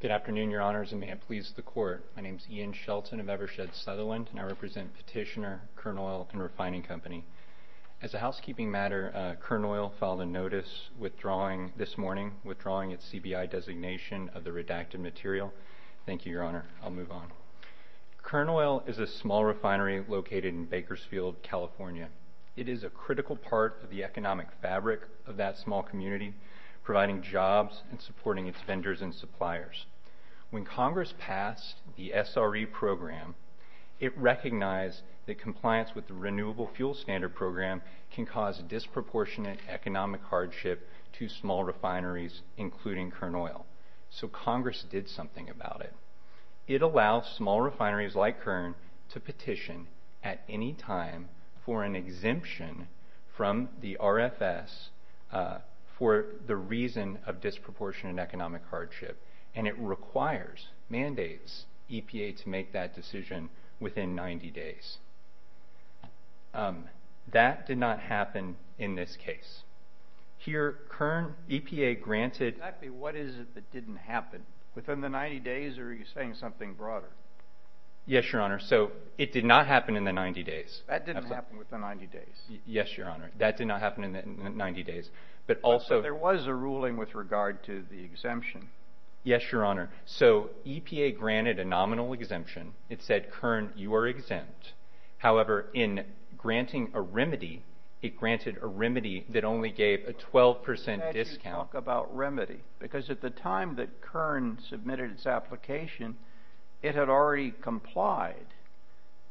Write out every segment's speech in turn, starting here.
Good afternoon, Your Honors, and may it please the Court. My name is Ian Shelton of Evershed Sutherland, and I represent Petitioner Kern Oil & Refining Company. As a housekeeping matter, Kern Oil filed a notice withdrawing this morning, withdrawing its CBI designation of the redacted material. Thank you, Your Honor. I'll move on. Kern Oil is a small refinery located in Bakersfield, California. It is a critical part of the economic fabric of that small community, providing jobs and supporting its vendors and suppliers. When Congress passed the SRE program, it recognized that compliance with the Renewable Fuel Standard program can cause disproportionate economic hardship to small refineries, including Kern Oil. So Congress did something about it. It allows small refineries like Kern to petition at any time for an exemption from the RFS for the reason of disproportionate economic hardship, and it requires, mandates EPA to make that decision within 90 days. That did not happen in this case. Here, Kern, EPA granted... Exactly what is it that didn't happen? Within the 90 days, or are you saying something broader? Yes, Your Honor. So it did not happen in the 90 days. That didn't happen within 90 days? Yes, Your Honor. That did not happen in the 90 days. But also... But there was a ruling with regard to the exemption. Yes, Your Honor. So EPA granted a nominal exemption. It said, Kern, you are exempt. However, in granting a remedy, it granted a remedy that only gave a 12% discount. How can you talk about remedy? Because at the time that Kern submitted its application, it had already complied.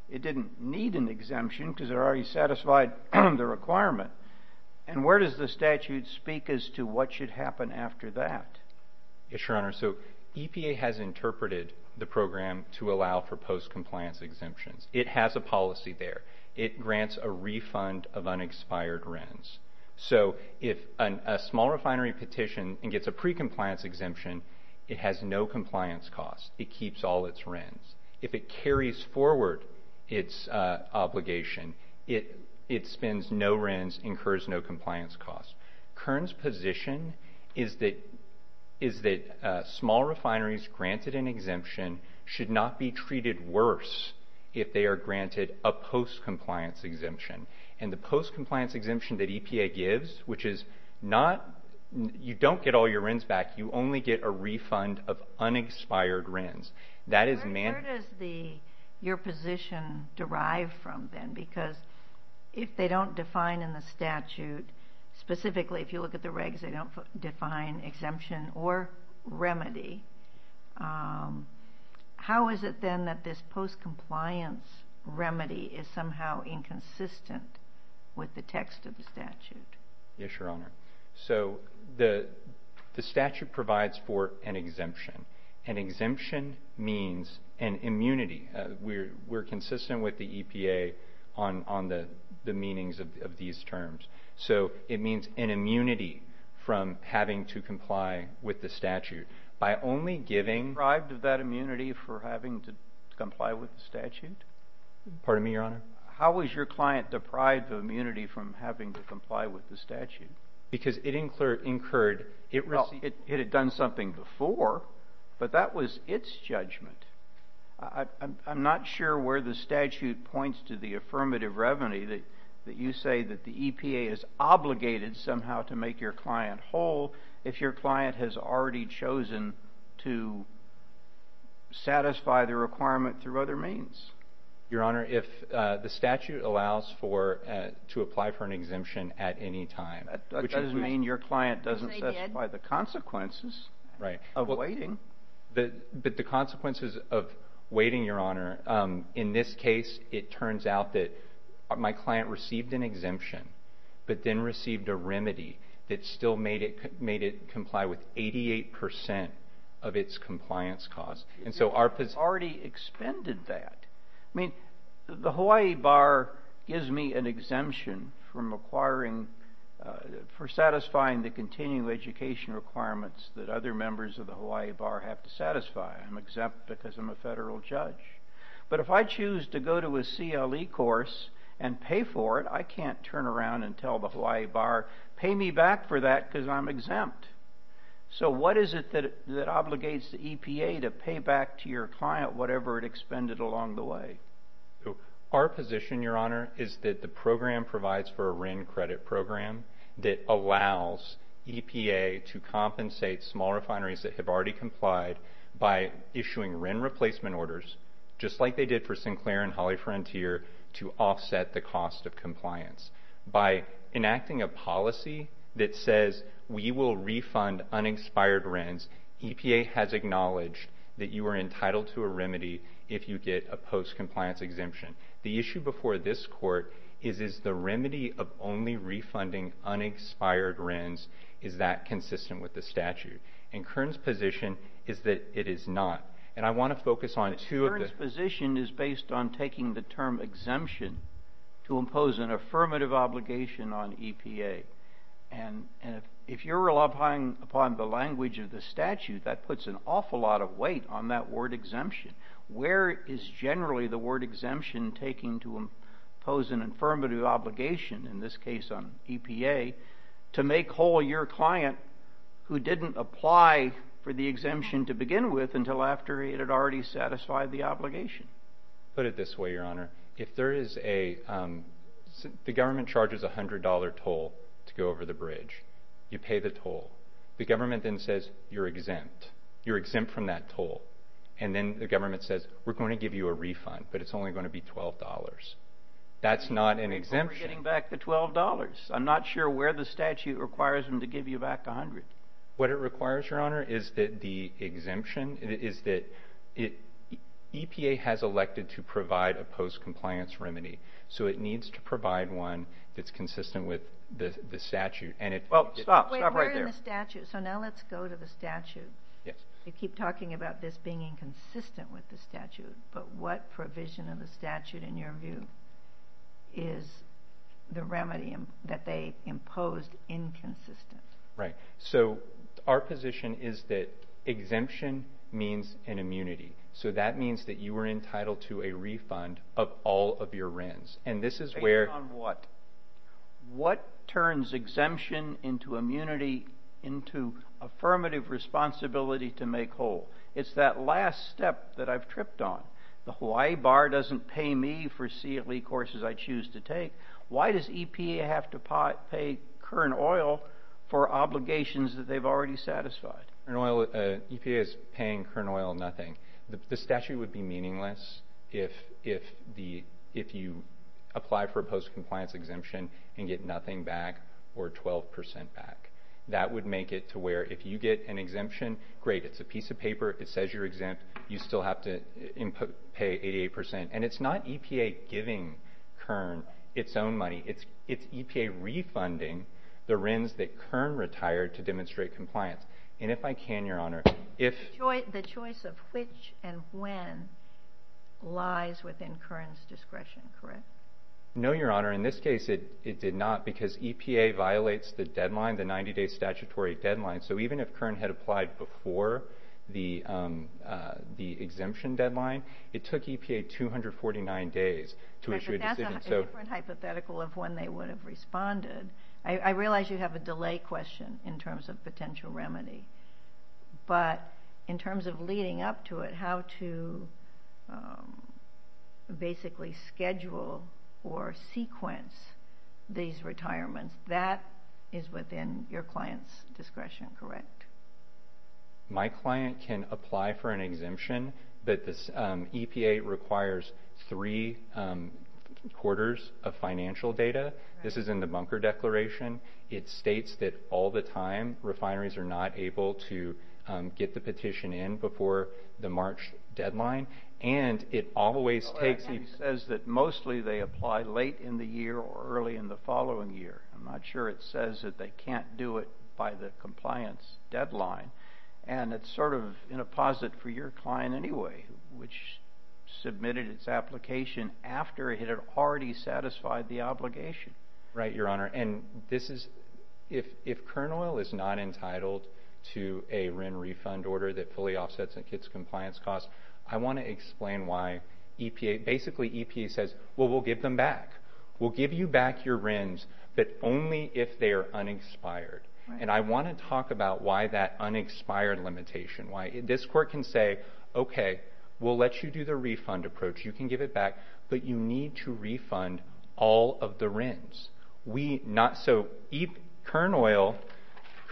It didn't need an exemption because it already satisfied the requirement. And where does the statute speak as to what should happen after that? Yes, Your Honor. So EPA has interpreted the program to allow for post-compliance exemptions. It has a policy there. It grants a refund of unexpired RENs. So if a small refinery petition and gets a pre-compliance exemption, it has no compliance costs. It keeps all its RENs. If it carries forward its obligation, it spends no RENs, incurs no compliance costs. Kern's position is that small refineries granted an exemption should not be treated worse if they are granted a post-compliance exemption. And the post-compliance exemption that EPA gives, which is not, you don't get all your RENs back. You only get a refund of unexpired RENs. Where does your position derive from then? Because if they don't define in the statute, specifically if you look at the regs, they don't define exemption or remedy. How is it then that this post-compliance remedy is somehow inconsistent with the text of the statute? Yes, Your Honor. So the statute provides for an exemption. An exemption means an immunity. We're consistent with the EPA on the meanings of these terms. So it means an immunity from having to comply with the statute by only giving... Deprived of that immunity for having to comply with the statute? Pardon me, Your Honor? How was your client deprived of immunity from having to comply with the statute? Because it incurred... Well, it had done something before, but that was its judgment. I'm not sure where the statute points to the affirmative remedy that you say that the EPA is obligated somehow to make your client whole if your client has already chosen to satisfy the requirement through other means. Your Honor, if the statute allows to apply for an exemption at any time... That doesn't mean your client doesn't satisfy the consequences of waiting. But the consequences of waiting, Your Honor, in this case, it turns out that my client received an exemption, but then received a remedy that still made it comply with 88% of its compliance cost. You've already expended that. I mean, the Hawaii Bar gives me an exemption for satisfying the continuing education requirements that other members of the Hawaii Bar have to satisfy. I'm exempt because I'm a federal judge. But if I choose to go to a CLE course and pay for it, I can't turn around and tell the Hawaii Bar, pay me back for that because I'm exempt. So what is it that obligates the EPA to pay back to your client whatever it expended along the way? Our position, Your Honor, is that the program provides for a WRIN credit program that allows EPA to compensate small refineries that have already complied by issuing WRIN replacement orders, just like they did for Sinclair and Hawley Frontier, to offset the cost of compliance. By enacting a policy that says we will refund unexpired WRINs, EPA has acknowledged that you are entitled to a remedy if you get a post-compliance exemption. The issue before this Court is, is the remedy of only refunding unexpired WRINs, is that consistent with the statute? And Kern's position is that it is not. And I want to focus on two of the... But Kern's position is based on taking the term exemption to impose an affirmative obligation on EPA. And if you're relying upon the language of the statute, that puts an awful lot of weight on that word exemption. Where is generally the word exemption taking to impose an affirmative obligation, in this case on EPA, to make whole your client who didn't apply for the exemption to begin with until after it had already satisfied the obligation? Put it this way, Your Honor, if there is a... The government charges a $100 toll to go over the bridge. You pay the toll. The government then says you're exempt. You're exempt from that toll. And then the government says we're going to give you a refund, but it's only going to be $12. That's not an exemption. But we're getting back the $12. I'm not sure where the statute requires them to give you back $100. What it requires, Your Honor, is that the exemption is that... EPA has elected to provide a post-compliance remedy, so it needs to provide one that's consistent with the statute. Stop right there. So now let's go to the statute. You keep talking about this being inconsistent with the statute, but what provision of the statute, in your view, is the remedy that they imposed inconsistent? Right. So our position is that exemption means an immunity. So that means that you are entitled to a refund of all of your RINs. And this is where... Based on what? What turns exemption into immunity into affirmative responsibility to make whole? It's that last step that I've tripped on. The Hawaii Bar doesn't pay me for CLE courses I choose to take. Why does EPA have to pay Kern Oil for obligations that they've already satisfied? EPA is paying Kern Oil nothing. The statute would be meaningless if you apply for a post-compliance exemption and get nothing back or 12 percent back. That would make it to where if you get an exemption, great, it's a piece of paper. It says you're exempt. You still have to pay 88 percent. And it's not EPA giving Kern its own money. It's EPA refunding the RINs that Kern retired to demonstrate compliance. And if I can, Your Honor, if... The choice of which and when lies within Kern's discretion, correct? No, Your Honor. In this case, it did not because EPA violates the deadline, the 90-day statutory deadline. So even if Kern had applied before the exemption deadline, it took EPA 249 days to issue a decision. But that's a different hypothetical of when they would have responded. I realize you have a delay question in terms of potential remedy. But in terms of leading up to it, how to basically schedule or sequence these retirements, that is within your client's discretion, correct? My client can apply for an exemption, but EPA requires three quarters of financial data. This is in the bunker declaration. It states that all the time refineries are not able to get the petition in before the March deadline. And it always takes... It says that mostly they apply late in the year or early in the following year. I'm not sure it says that they can't do it by the compliance deadline. And it's sort of in a posit for your client anyway, which submitted its application after it had already satisfied the obligation. Right, Your Honor. And this is... If Kern Oil is not entitled to a RIN refund order that fully offsets a kid's compliance cost, I want to explain why EPA... Basically, EPA says, well, we'll give them back. We'll give you back your RINs, but only if they are unexpired. And I want to talk about why that unexpired limitation. This court can say, okay, we'll let you do the refund approach. You can give it back, but you need to refund all of the RINs. So Kern Oil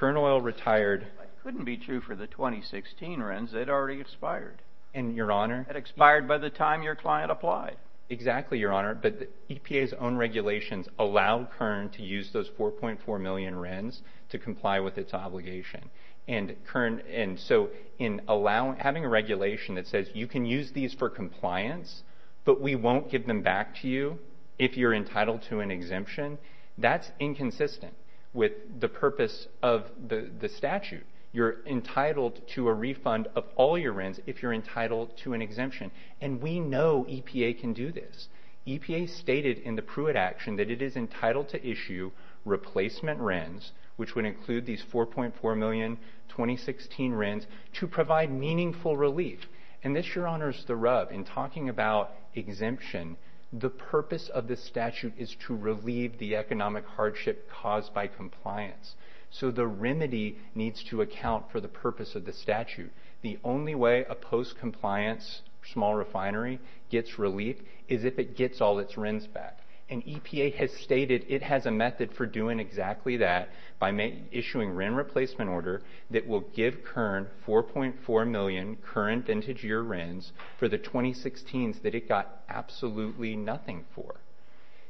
retired... It couldn't be true for the 2016 RINs. They'd already expired. And, Your Honor... It expired by the time your client applied. Exactly, Your Honor. But EPA's own regulations allow Kern to use those 4.4 million RINs to comply with its obligation. And so in having a regulation that says you can use these for compliance, but we won't give them back to you if you're entitled to an exemption, that's inconsistent with the purpose of the statute. You're entitled to a refund of all your RINs if you're entitled to an exemption. And we know EPA can do this. EPA stated in the Pruitt action that it is entitled to issue replacement RINs, which would include these 4.4 million 2016 RINs, to provide meaningful relief. And this, Your Honor, is the rub. In talking about exemption, the purpose of the statute is to relieve the economic hardship caused by compliance. So the remedy needs to account for the purpose of the statute. The only way a post-compliance small refinery gets relief is if it gets all its RINs back. And EPA has stated it has a method for doing exactly that by issuing RIN replacement order that will give Kern 4.4 million current vintage year RINs for the 2016s that it got absolutely nothing for.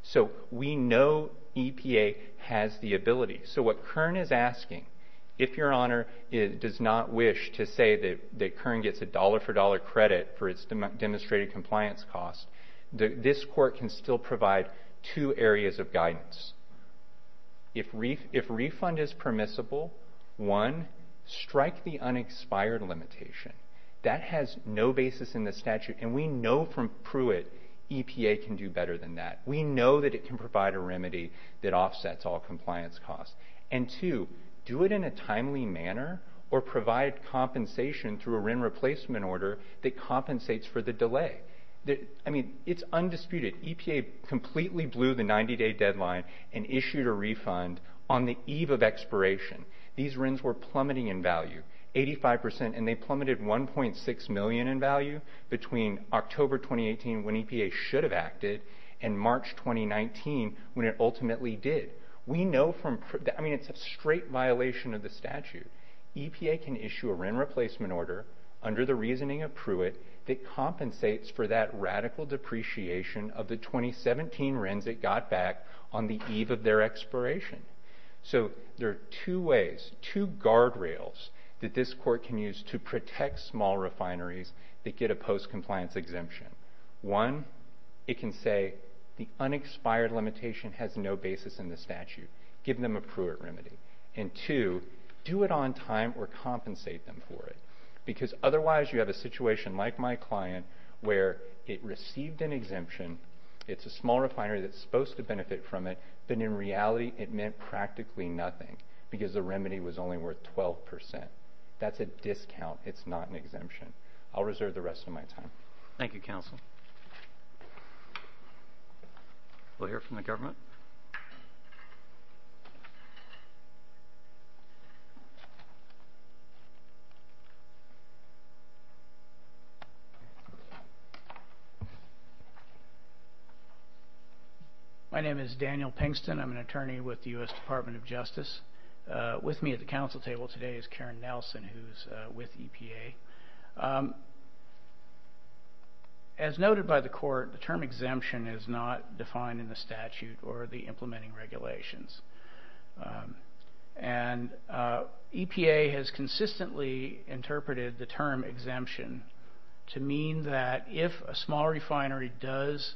So we know EPA has the ability. So what Kern is asking, if Your Honor does not wish to say that Kern gets a dollar-for-dollar credit for its demonstrated compliance cost, this court can still provide two areas of guidance. If refund is permissible, one, strike the unexpired limitation. That has no basis in the statute. And we know from Pruitt EPA can do better than that. We know that it can provide a remedy that offsets all compliance costs. And two, do it in a timely manner or provide compensation through a RIN replacement order that compensates for the delay. I mean, it's undisputed. EPA completely blew the 90-day deadline and issued a refund on the eve of expiration. These RINs were plummeting in value, 85 percent, and they plummeted 1.6 million in value between October 2018 when EPA should have acted and March 2019 when it ultimately did. We know from Pruitt, I mean, it's a straight violation of the statute. EPA can issue a RIN replacement order under the reasoning of Pruitt that compensates for that radical depreciation of the 2017 RINs it got back on the eve of their expiration. So there are two ways, two guardrails that this court can use to protect small refineries that get a post-compliance exemption. One, it can say the unexpired limitation has no basis in the statute. Give them a Pruitt remedy. And two, do it on time or compensate them for it. Because otherwise you have a situation like my client where it received an exemption, it's a small refinery that's supposed to benefit from it, but in reality it meant practically nothing because the remedy was only worth 12 percent. That's a discount. It's not an exemption. I'll reserve the rest of my time. Thank you, counsel. We'll hear from the government. My name is Daniel Pinkston. I'm an attorney with the U.S. Department of Justice. With me at the counsel table today is Karen Nelson, who's with EPA. As noted by the court, the term exemption is not defined in the statute or the implementing regulations. And EPA has consistently interpreted the term exemption to mean that if a small refinery does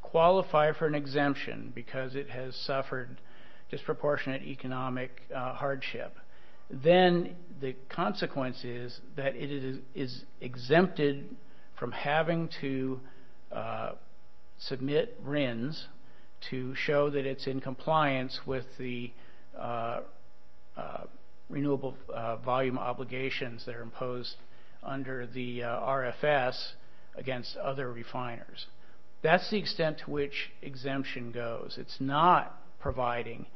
qualify for an exemption because it has suffered disproportionate economic hardship, then the consequence is that it is exempted from having to submit RINs to show that it's in compliance with the renewable volume obligations that are imposed under the RFS against other refiners. That's the extent to which exemption goes. It's not providing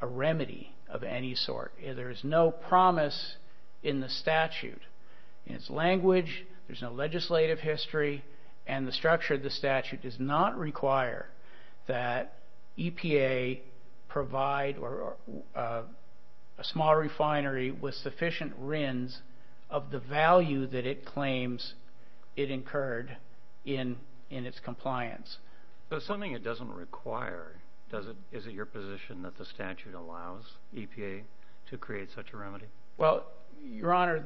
a remedy of any sort. There is no promise in the statute. In its language, there's no legislative history, and the structure of the statute does not require that EPA provide a small refinery with sufficient RINs of the value that it claims it incurred in its compliance. So something it doesn't require, is it your position that the statute allows EPA to create such a remedy? Well, Your Honor,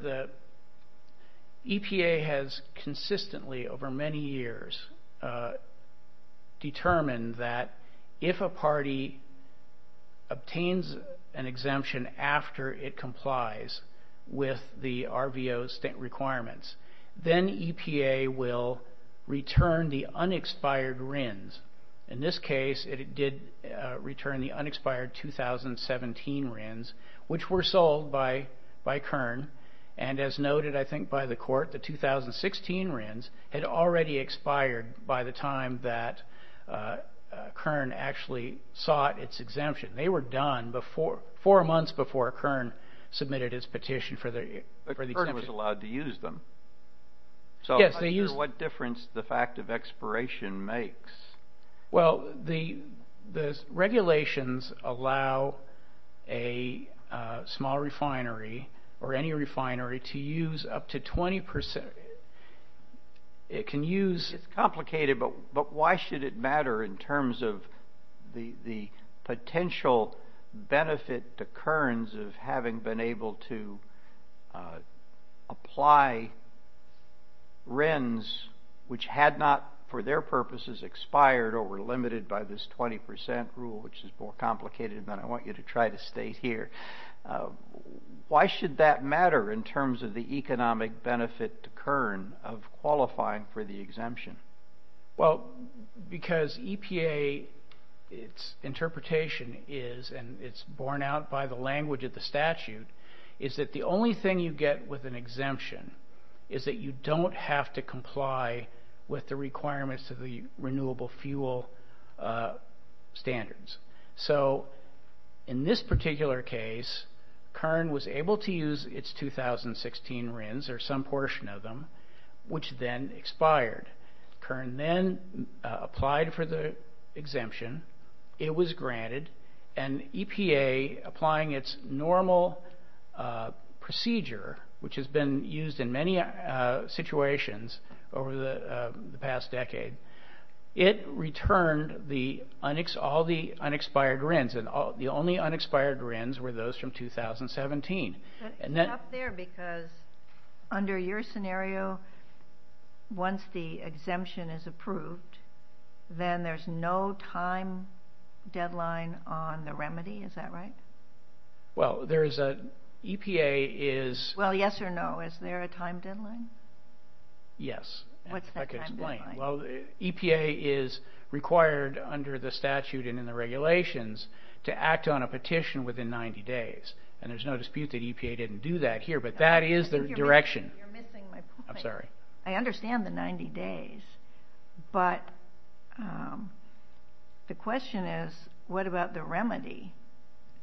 EPA has consistently over many years determined that if a party obtains an exemption after it complies with the RVO state requirements, then EPA will return the unexpired RINs. In this case, it did return the unexpired 2017 RINs, which were sold by Kern, and as noted, I think, by the court, the 2016 RINs had already expired by the time that Kern actually sought its exemption. They were done four months before Kern submitted its petition for the exemption. But Kern was allowed to use them. Yes, they used them. So what difference the fact of expiration makes? Well, the regulations allow a small refinery or any refinery to use up to 20%. It can use... It's complicated, but why should it matter in terms of the potential benefit to Kerns of having been able to apply RINs, which had not for their purposes expired or were limited by this 20% rule, which is more complicated than I want you to try to state here. Why should that matter in terms of the economic benefit to Kern of qualifying for the exemption? Well, because EPA, its interpretation is, and it's borne out by the language of the statute, is that the only thing you get with an exemption is that you don't have to comply with the requirements of the renewable fuel standards. So in this particular case, Kern was able to use its 2016 RINs, or some portion of them, which then expired. Kern then applied for the exemption. It was granted. And EPA, applying its normal procedure, which has been used in many situations over the past decade, it returned all the unexpired RINs, and the only unexpired RINs were those from 2017. But it's not there because under your scenario, once the exemption is approved, then there's no time deadline on the remedy. Is that right? Well, there is a... EPA is... Well, yes or no, is there a time deadline? Yes. What's that time deadline? Well, EPA is required under the statute and in the regulations to act on a petition within 90 days, and there's no dispute that EPA didn't do that here, but that is the direction. You're missing my point. I'm sorry. I understand the 90 days, but the question is, what about the remedy?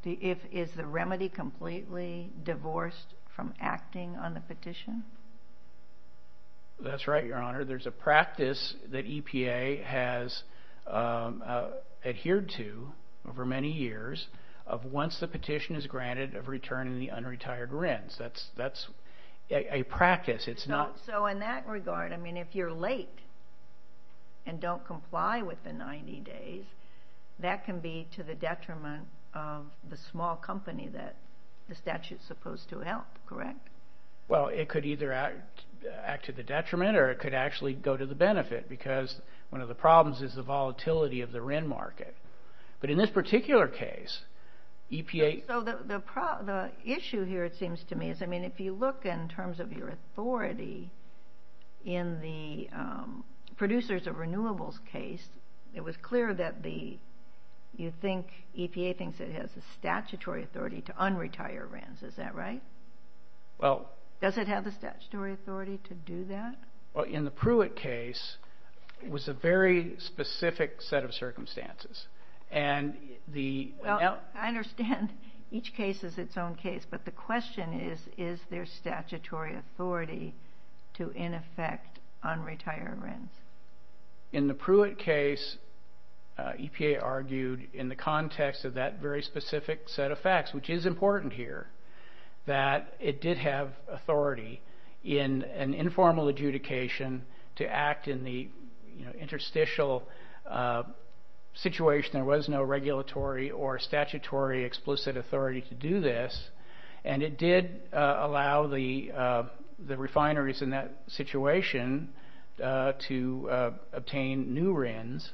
Is the remedy completely divorced from acting on the petition? That's right, Your Honor. There's a practice that EPA has adhered to over many years of once the petition is granted, of returning the unretired RINs. That's a practice. It's not... So in that regard, I mean, if you're late and don't comply with the 90 days, that can be to the detriment of the small company that the statute is supposed to help, correct? Well, it could either act to the detriment or it could actually go to the benefit because one of the problems is the volatility of the RIN market. But in this particular case, EPA... So the issue here, it seems to me, is, I mean, if you look in terms of your authority in the producers of renewables case, it was clear that you think EPA thinks it has the statutory authority to unretire RINs. Is that right? Well... Does it have the statutory authority to do that? Well, in the Pruitt case, it was a very specific set of circumstances, and the... Well, I understand each case is its own case, but the question is, is there statutory authority to, in effect, unretire RINs? In the Pruitt case, EPA argued in the context of that very specific set of facts, which is important here, that it did have authority in an informal adjudication to act in the interstitial situation. There was no regulatory or statutory explicit authority to do this, and it did allow the refineries in that situation to obtain new RINs.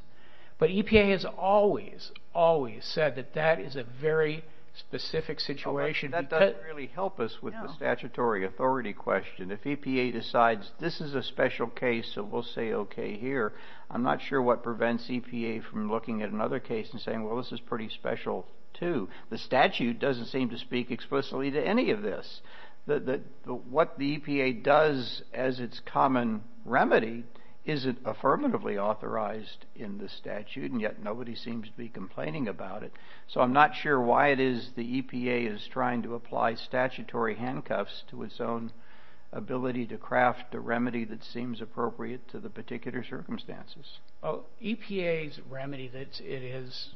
But EPA has always, always said that that is a very specific situation. That doesn't really help us with the statutory authority question. If EPA decides this is a special case, so we'll say okay here, I'm not sure what prevents EPA from looking at another case and saying, well, this is pretty special too. The statute doesn't seem to speak explicitly to any of this. What the EPA does as its common remedy isn't affirmatively authorized in the statute, and yet nobody seems to be complaining about it. So I'm not sure why it is the EPA is trying to apply statutory handcuffs to its own ability to craft a remedy that seems appropriate to the particular circumstances. EPA's remedy that it has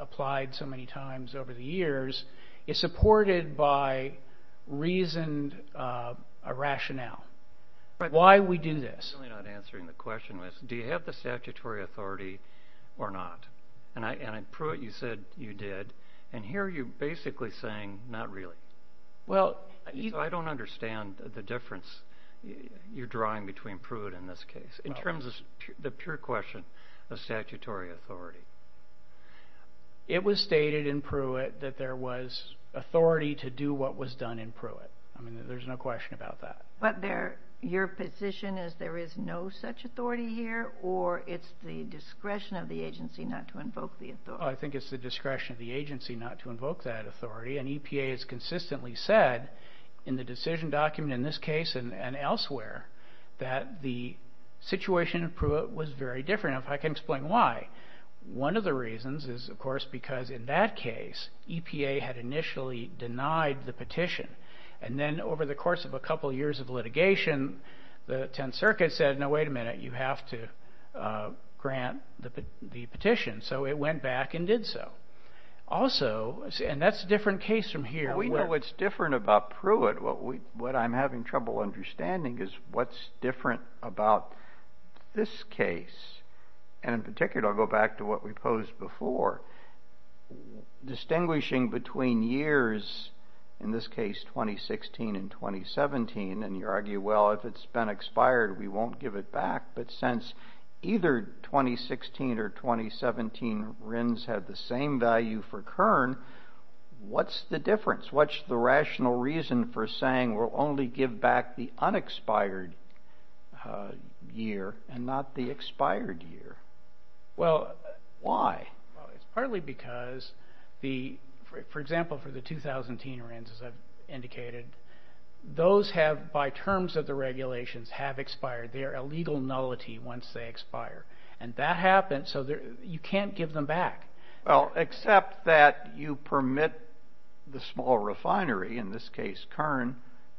applied so many times over the years is supported by reasoned rationale. Why we do this. I'm really not answering the question. Do you have the statutory authority or not? And in Pruitt you said you did, and here you're basically saying not really. So I don't understand the difference you're drawing between Pruitt and this case. In terms of the pure question of statutory authority. It was stated in Pruitt that there was authority to do what was done in Pruitt. There's no question about that. But your position is there is no such authority here, or it's the discretion of the agency not to invoke the authority? I think it's the discretion of the agency not to invoke that authority, and EPA has consistently said in the decision document in this case and elsewhere that the situation in Pruitt was very different, and I can explain why. One of the reasons is, of course, because in that case, EPA had initially denied the petition. And then over the course of a couple years of litigation, the 10th Circuit said, no, wait a minute, you have to grant the petition. So it went back and did so. Also, and that's a different case from here. We know what's different about Pruitt. What I'm having trouble understanding is what's different about this case. And in particular, I'll go back to what we posed before. Distinguishing between years, in this case 2016 and 2017, and you argue, well, if it's been expired, we won't give it back. But since either 2016 or 2017 RINs had the same value for Kern, what's the difference? What's the rational reason for saying we'll only give back the unexpired year and not the expired year? Why? Well, it's partly because, for example, for the 2010 RINs, as I've indicated, those have, by terms of the regulations, have expired. They are a legal nullity once they expire. And that happened, so you can't give them back. Well, except that you permit the small refinery, in this case Kern,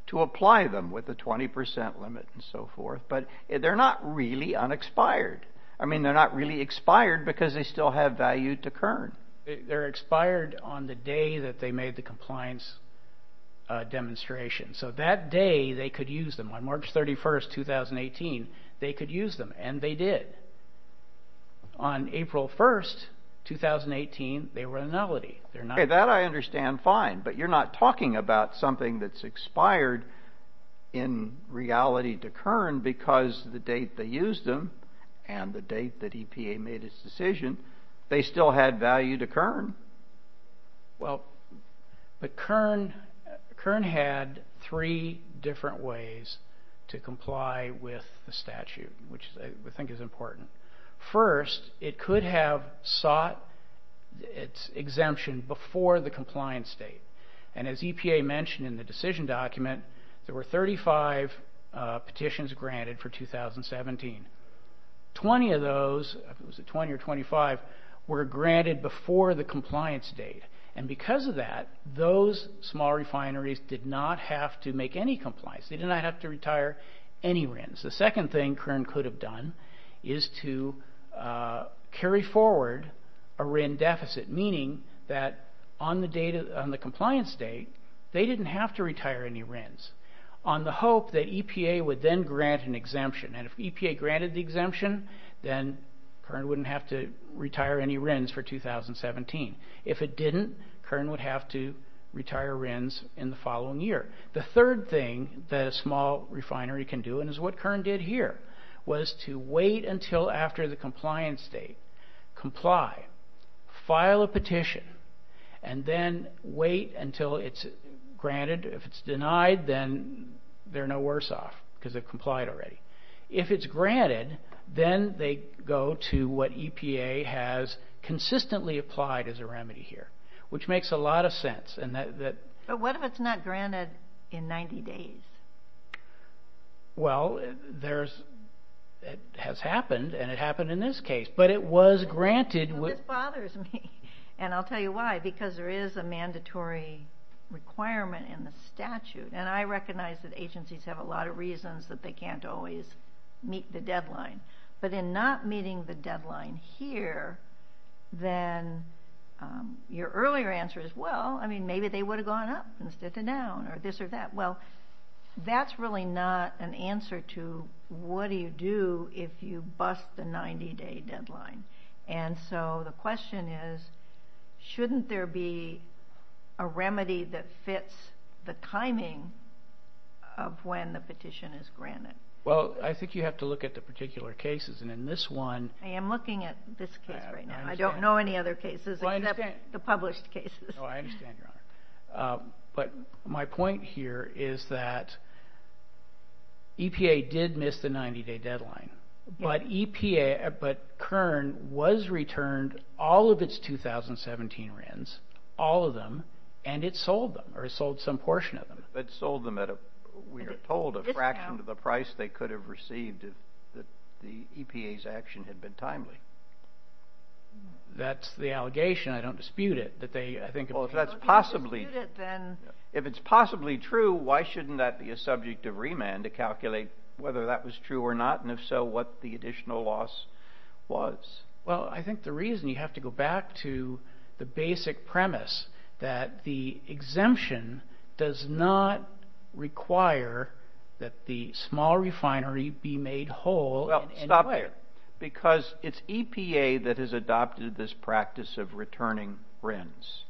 to apply them with a 20% limit and so forth. But they're not really unexpired. I mean, they're not really expired because they still have value to Kern. They're expired on the day that they made the compliance demonstration. So that day they could use them. On March 31, 2018, they could use them, and they did. On April 1, 2018, they were a nullity. That I understand fine, but you're not talking about something that's expired in reality to Kern because the date they used them and the date that EPA made its decision, they still had value to Kern. Well, but Kern had three different ways to comply with the statute, which I think is important. First, it could have sought its exemption before the compliance date. And as EPA mentioned in the decision document, there were 35 petitions granted for 2017. Twenty of those, I think it was 20 or 25, were granted before the compliance date. And because of that, those small refineries did not have to make any compliance. They did not have to retire any RINs. The second thing Kern could have done is to carry forward a RIN deficit, meaning that on the compliance date, they didn't have to retire any RINs on the hope that EPA would then grant an exemption. And if EPA granted the exemption, then Kern wouldn't have to retire any RINs for 2017. If it didn't, Kern would have to retire RINs in the following year. The third thing that a small refinery can do, and it's what Kern did here, was to wait until after the compliance date, comply, file a petition, and then wait until it's granted. If it's denied, then they're no worse off because they've complied already. If it's granted, then they go to what EPA has consistently applied as a remedy here, which makes a lot of sense. But what if it's not granted in 90 days? Well, it has happened, and it happened in this case, but it was granted. This bothers me, and I'll tell you why. Because there is a mandatory requirement in the statute, and I recognize that agencies have a lot of reasons that they can't always meet the deadline. But in not meeting the deadline here, then your earlier answer is, well, I mean, maybe they would have gone up instead of down or this or that. Well, that's really not an answer to what do you do if you bust the 90-day deadline. And so the question is, shouldn't there be a remedy that fits the timing of when the petition is granted? Well, I think you have to look at the particular cases. I am looking at this case right now. I don't know any other cases except the published cases. I understand, Your Honor. But my point here is that EPA did miss the 90-day deadline, but Kern was returned all of its 2017 RINs, all of them, and it sold them or sold some portion of them. It sold them at, we are told, a fraction of the price they could have received if the EPA's action had been timely. That's the allegation. I don't dispute it. Well, if that's possibly true, why shouldn't that be a subject of remand to calculate whether that was true or not, and if so, what the additional loss was? Well, I think the reason you have to go back to the basic premise that the exemption does not require that the small refinery be made whole. Because it's EPA that has adopted this practice of returning RINs.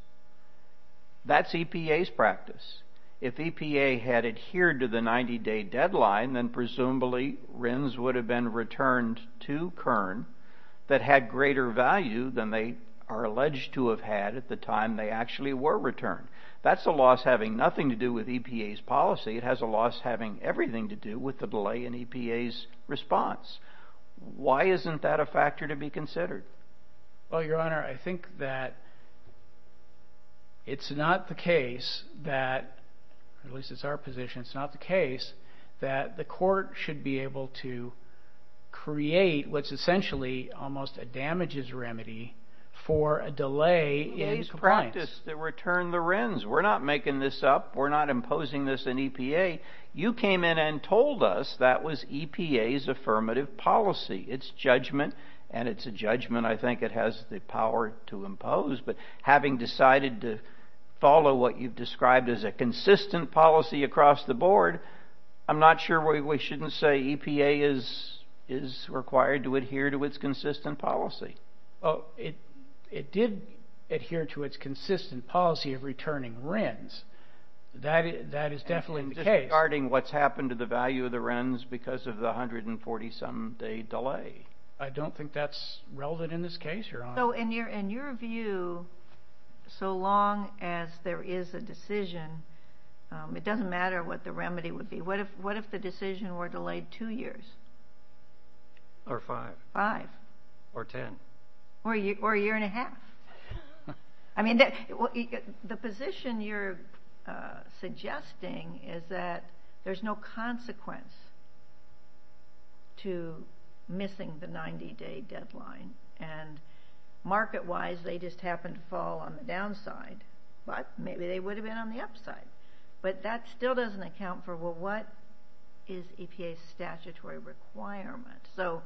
That's EPA's practice. If EPA had adhered to the 90-day deadline, then presumably RINs would have been returned to Kern that had greater value than they are alleged to have had at the time they actually were returned. That's a loss having nothing to do with EPA's policy. It has a loss having everything to do with the delay in EPA's response. Why isn't that a factor to be considered? Well, Your Honor, I think that it's not the case that, at least it's our position, it's not the case that the court should be able to create what's essentially almost a damages remedy for a delay in compliance. It is practice to return the RINs. We're not making this up. We're not imposing this in EPA. You came in and told us that was EPA's affirmative policy. It's judgment, and it's a judgment I think it has the power to impose. But having decided to follow what you've described as a consistent policy across the board, I'm not sure we shouldn't say EPA is required to adhere to its consistent policy. It did adhere to its consistent policy of returning RINs. That is definitely the case. Regarding what's happened to the value of the RINs because of the 140-some day delay. I don't think that's relevant in this case, Your Honor. In your view, so long as there is a decision, it doesn't matter what the remedy would be. What if the decision were delayed two years? Or five. Five. Or ten. Or a year and a half. I mean, the position you're suggesting is that there's no consequence to missing the 90-day deadline. And market-wise, they just happen to fall on the downside. But maybe they would have been on the upside. But that still doesn't account for, well, what is EPA's statutory requirement? So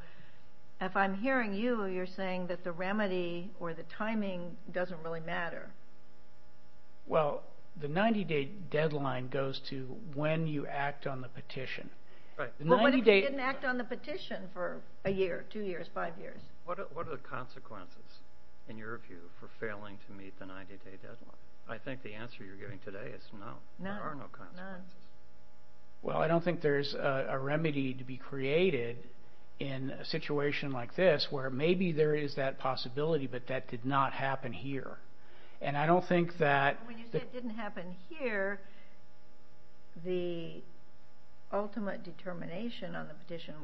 if I'm hearing you, you're saying that the remedy or the timing doesn't really matter. Well, the 90-day deadline goes to when you act on the petition. What if you didn't act on the petition for a year, two years, five years? What are the consequences, in your view, for failing to meet the 90-day deadline? I think the answer you're giving today is no. There are no consequences. Well, I don't think there's a remedy to be created in a situation like this where maybe there is that possibility, but that did not happen here. When you say it didn't happen here, the ultimate determination on the petition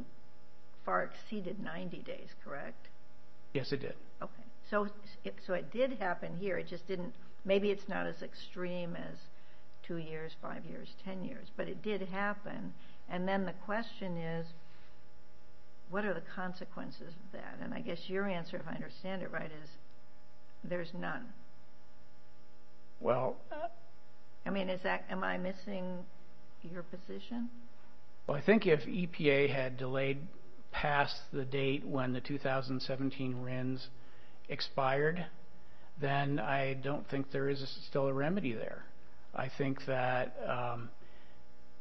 far exceeded 90 days, correct? Yes, it did. Okay. So it did happen here. Maybe it's not as extreme as two years, five years, ten years, but it did happen. And then the question is, what are the consequences of that? And I guess your answer, if I understand it right, is there's none. I mean, am I missing your position? Well, I think if EPA had delayed past the date when the 2017 RINs expired, then I don't think there is still a remedy there. I think that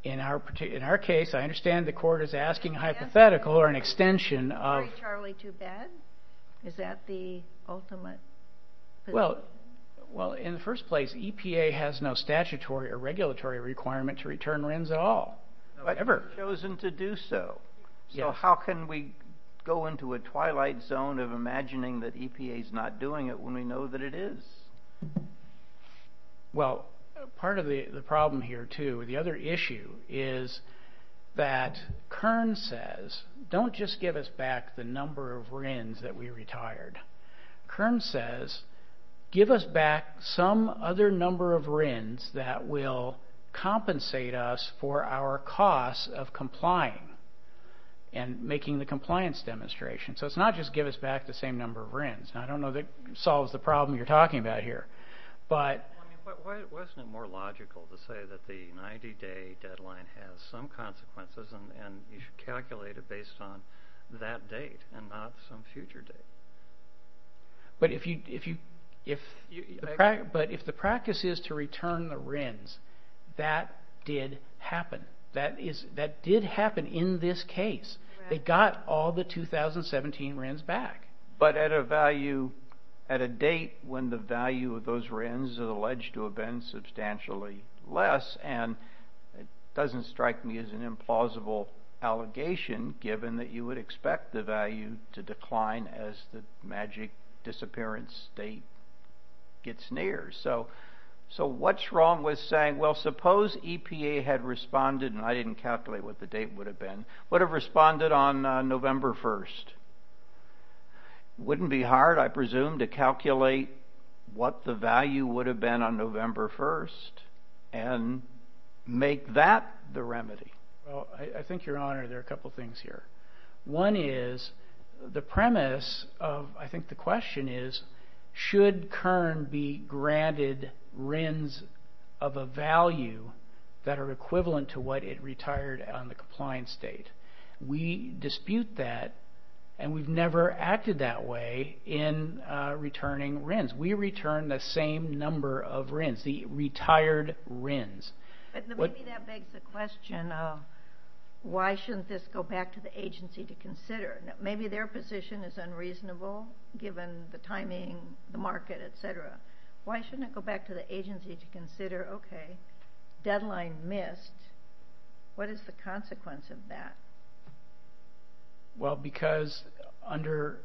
in our case, I understand the court is asking hypothetical or an extension of the ultimate position. Well, in the first place, EPA has no statutory or regulatory requirement to return RINs at all, ever. But they've chosen to do so. So how can we go into a twilight zone of imagining that EPA is not doing it when we know that it is? Well, part of the problem here, too, the other issue is that Kern says, don't just give us back the number of RINs that we retired. Kern says, give us back some other number of RINs that will compensate us for our costs of complying and making the compliance demonstration. So it's not just give us back the same number of RINs. Now, I don't know that solves the problem you're talking about here. Wasn't it more logical to say that the 90-day deadline has some consequences and you should calculate it based on that date and not some future date? But if the practice is to return the RINs, that did happen. That did happen in this case. They got all the 2017 RINs back. But at a date when the value of those RINs alleged to have been substantially less, and it doesn't strike me as an implausible allegation, given that you would expect the value to decline as the magic disappearance date gets near. So what's wrong with saying, well, suppose EPA had responded, and I didn't calculate what the date would have been, would have responded on November 1st? Wouldn't it be hard, I presume, to calculate what the value would have been on November 1st and make that the remedy? Well, I think, Your Honor, there are a couple things here. One is the premise of, I think, the question is, should Kern be granted RINs of a value that are equivalent to what it retired on the compliance date? We dispute that, and we've never acted that way in returning RINs. We return the same number of RINs, the retired RINs. But maybe that begs the question of, why shouldn't this go back to the agency to consider? Maybe their position is unreasonable, given the timing, the market, et cetera. Why shouldn't it go back to the agency to consider, okay, deadline missed. What is the consequence of that? Well, because under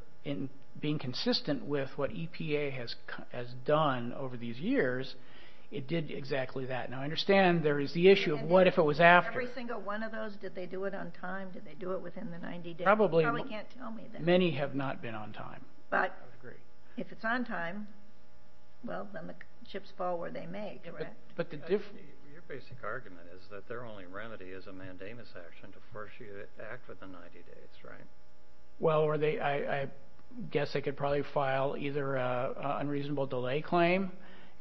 being consistent with what EPA has done over these years, it did exactly that. Now, I understand there is the issue of what if it was after. Every single one of those, did they do it on time? Did they do it within the 90 days? You probably can't tell me that. Many have not been on time. But if it's on time, well, then the chips fall where they may, correct? Your basic argument is that their only remedy is a mandamus action to force you to act within 90 days, right? Well, I guess they could probably file either an unreasonable delay claim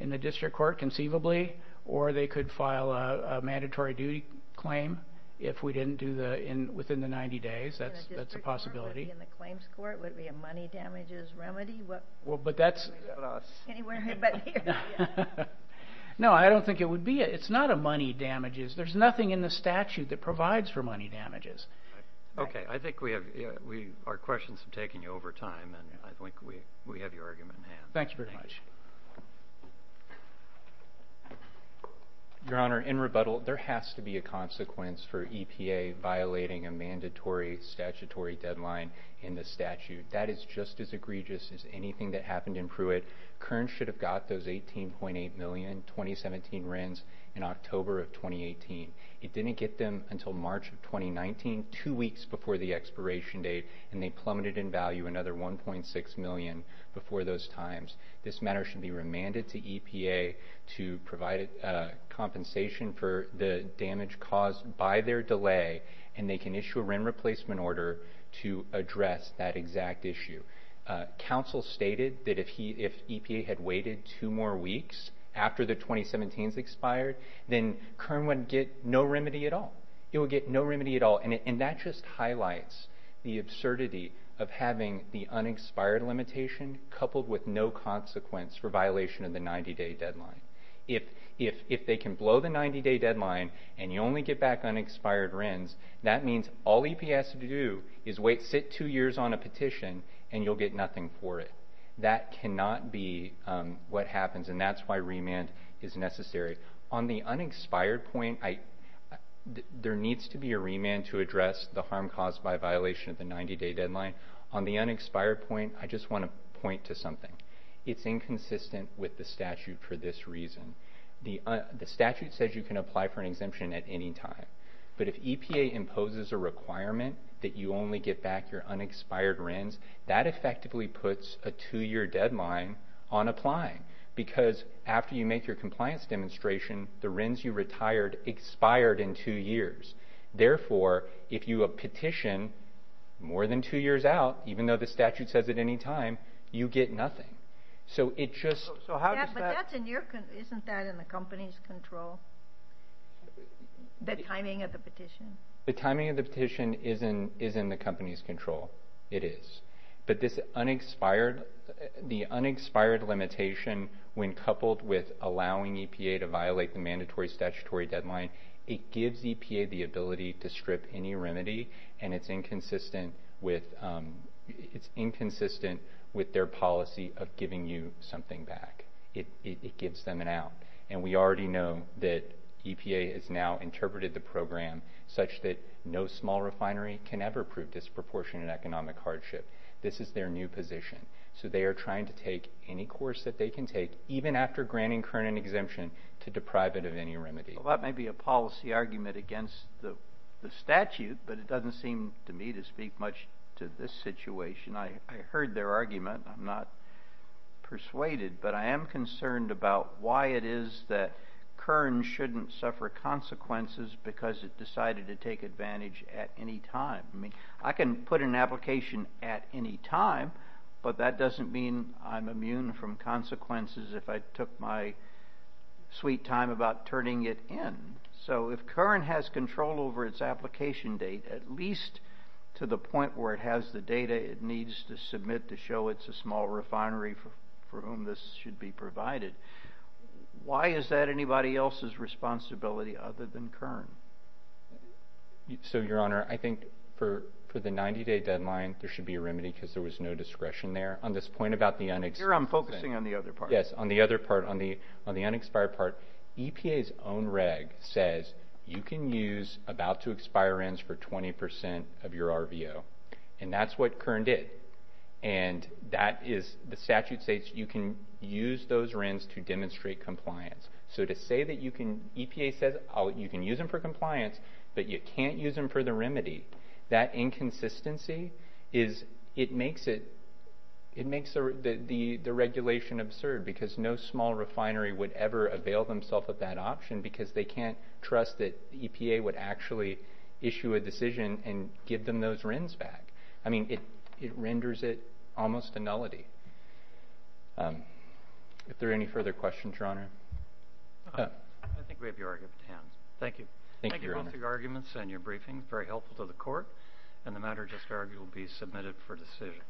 in the district court conceivably, or they could file a mandatory duty claim if we didn't do it within the 90 days. That's a possibility. In the district court, would it be in the claims court? Would it be a money damages remedy? Well, but that's… Anywhere but here. No, I don't think it would be. It's not a money damages. There's nothing in the statute that provides for money damages. I think our questions have taken you over time, and I think we have your argument in hand. Thank you very much. Your Honor, in rebuttal, there has to be a consequence for EPA violating a mandatory statutory deadline in the statute. That is just as egregious as anything that happened in Pruitt. Kearns should have got those 18.8 million 2017 RINs in October of 2018. It didn't get them until March of 2019, two weeks before the expiration date, and they plummeted in value another 1.6 million before those times. This matter should be remanded to EPA to provide compensation for the damage caused by their delay, and they can issue a RIN replacement order to address that exact issue. Counsel stated that if EPA had waited two more weeks after the 2017s expired, then Kearns would get no remedy at all. It would get no remedy at all, and that just highlights the absurdity of having the unexpired limitation coupled with no consequence for violation of the 90-day deadline. If they can blow the 90-day deadline and you only get back unexpired RINs, that means all EPA has to do is sit two years on a petition, and you'll get nothing for it. That cannot be what happens, and that's why remand is necessary. On the unexpired point, there needs to be a remand to address the harm caused by violation of the 90-day deadline. On the unexpired point, I just want to point to something. It's inconsistent with the statute for this reason. The statute says you can apply for an exemption at any time, but if EPA imposes a requirement that you only get back your unexpired RINs, that effectively puts a two-year deadline on applying because after you make your compliance demonstration, the RINs you retired expired in two years. Therefore, if you petition more than two years out, even though the statute says at any time, you get nothing. Isn't that in the company's control, the timing of the petition? The timing of the petition is in the company's control. It is. But the unexpired limitation when coupled with allowing EPA to violate the mandatory statutory deadline, it gives EPA the ability to strip any remedy, and it's inconsistent with their policy of giving you something back. It gives them an out. We already know that EPA has now interpreted the program such that no small refinery can ever prove disproportionate economic hardship. This is their new position. So they are trying to take any course that they can take, even after granting Kern an exemption, to deprive it of any remedy. Well, that may be a policy argument against the statute, but it doesn't seem to me to speak much to this situation. I heard their argument. I'm not persuaded, but I am concerned about why it is that Kern shouldn't suffer consequences because it decided to take advantage at any time. I can put an application at any time, but that doesn't mean I'm immune from consequences if I took my sweet time about turning it in. So if Kern has control over its application date, at least to the point where it has the data it needs to submit to show it's a small refinery for whom this should be provided, why is that anybody else's responsibility other than Kern? So, Your Honor, I think for the 90-day deadline, there should be a remedy because there was no discretion there. On this point about the unexpired... Your Honor, I'm focusing on the other part. Yes, on the other part, on the unexpired part, EPA's own reg says you can use about-to-expire RINs for 20% of your RVO, and that's what Kern did. And the statute states you can use those RINs to demonstrate compliance. So to say that you can use them for compliance, but you can't use them for the remedy, that inconsistency makes the regulation absurd because no small refinery would ever avail themselves of that option because they can't trust that EPA would actually issue a decision and give them those RINs back. I mean, it renders it almost a nullity. Are there any further questions, Your Honor? I think we have your argument at hand. Thank you. Thank you both for your arguments and your briefing. Very helpful to the Court. And the matter just argued will be submitted for decision.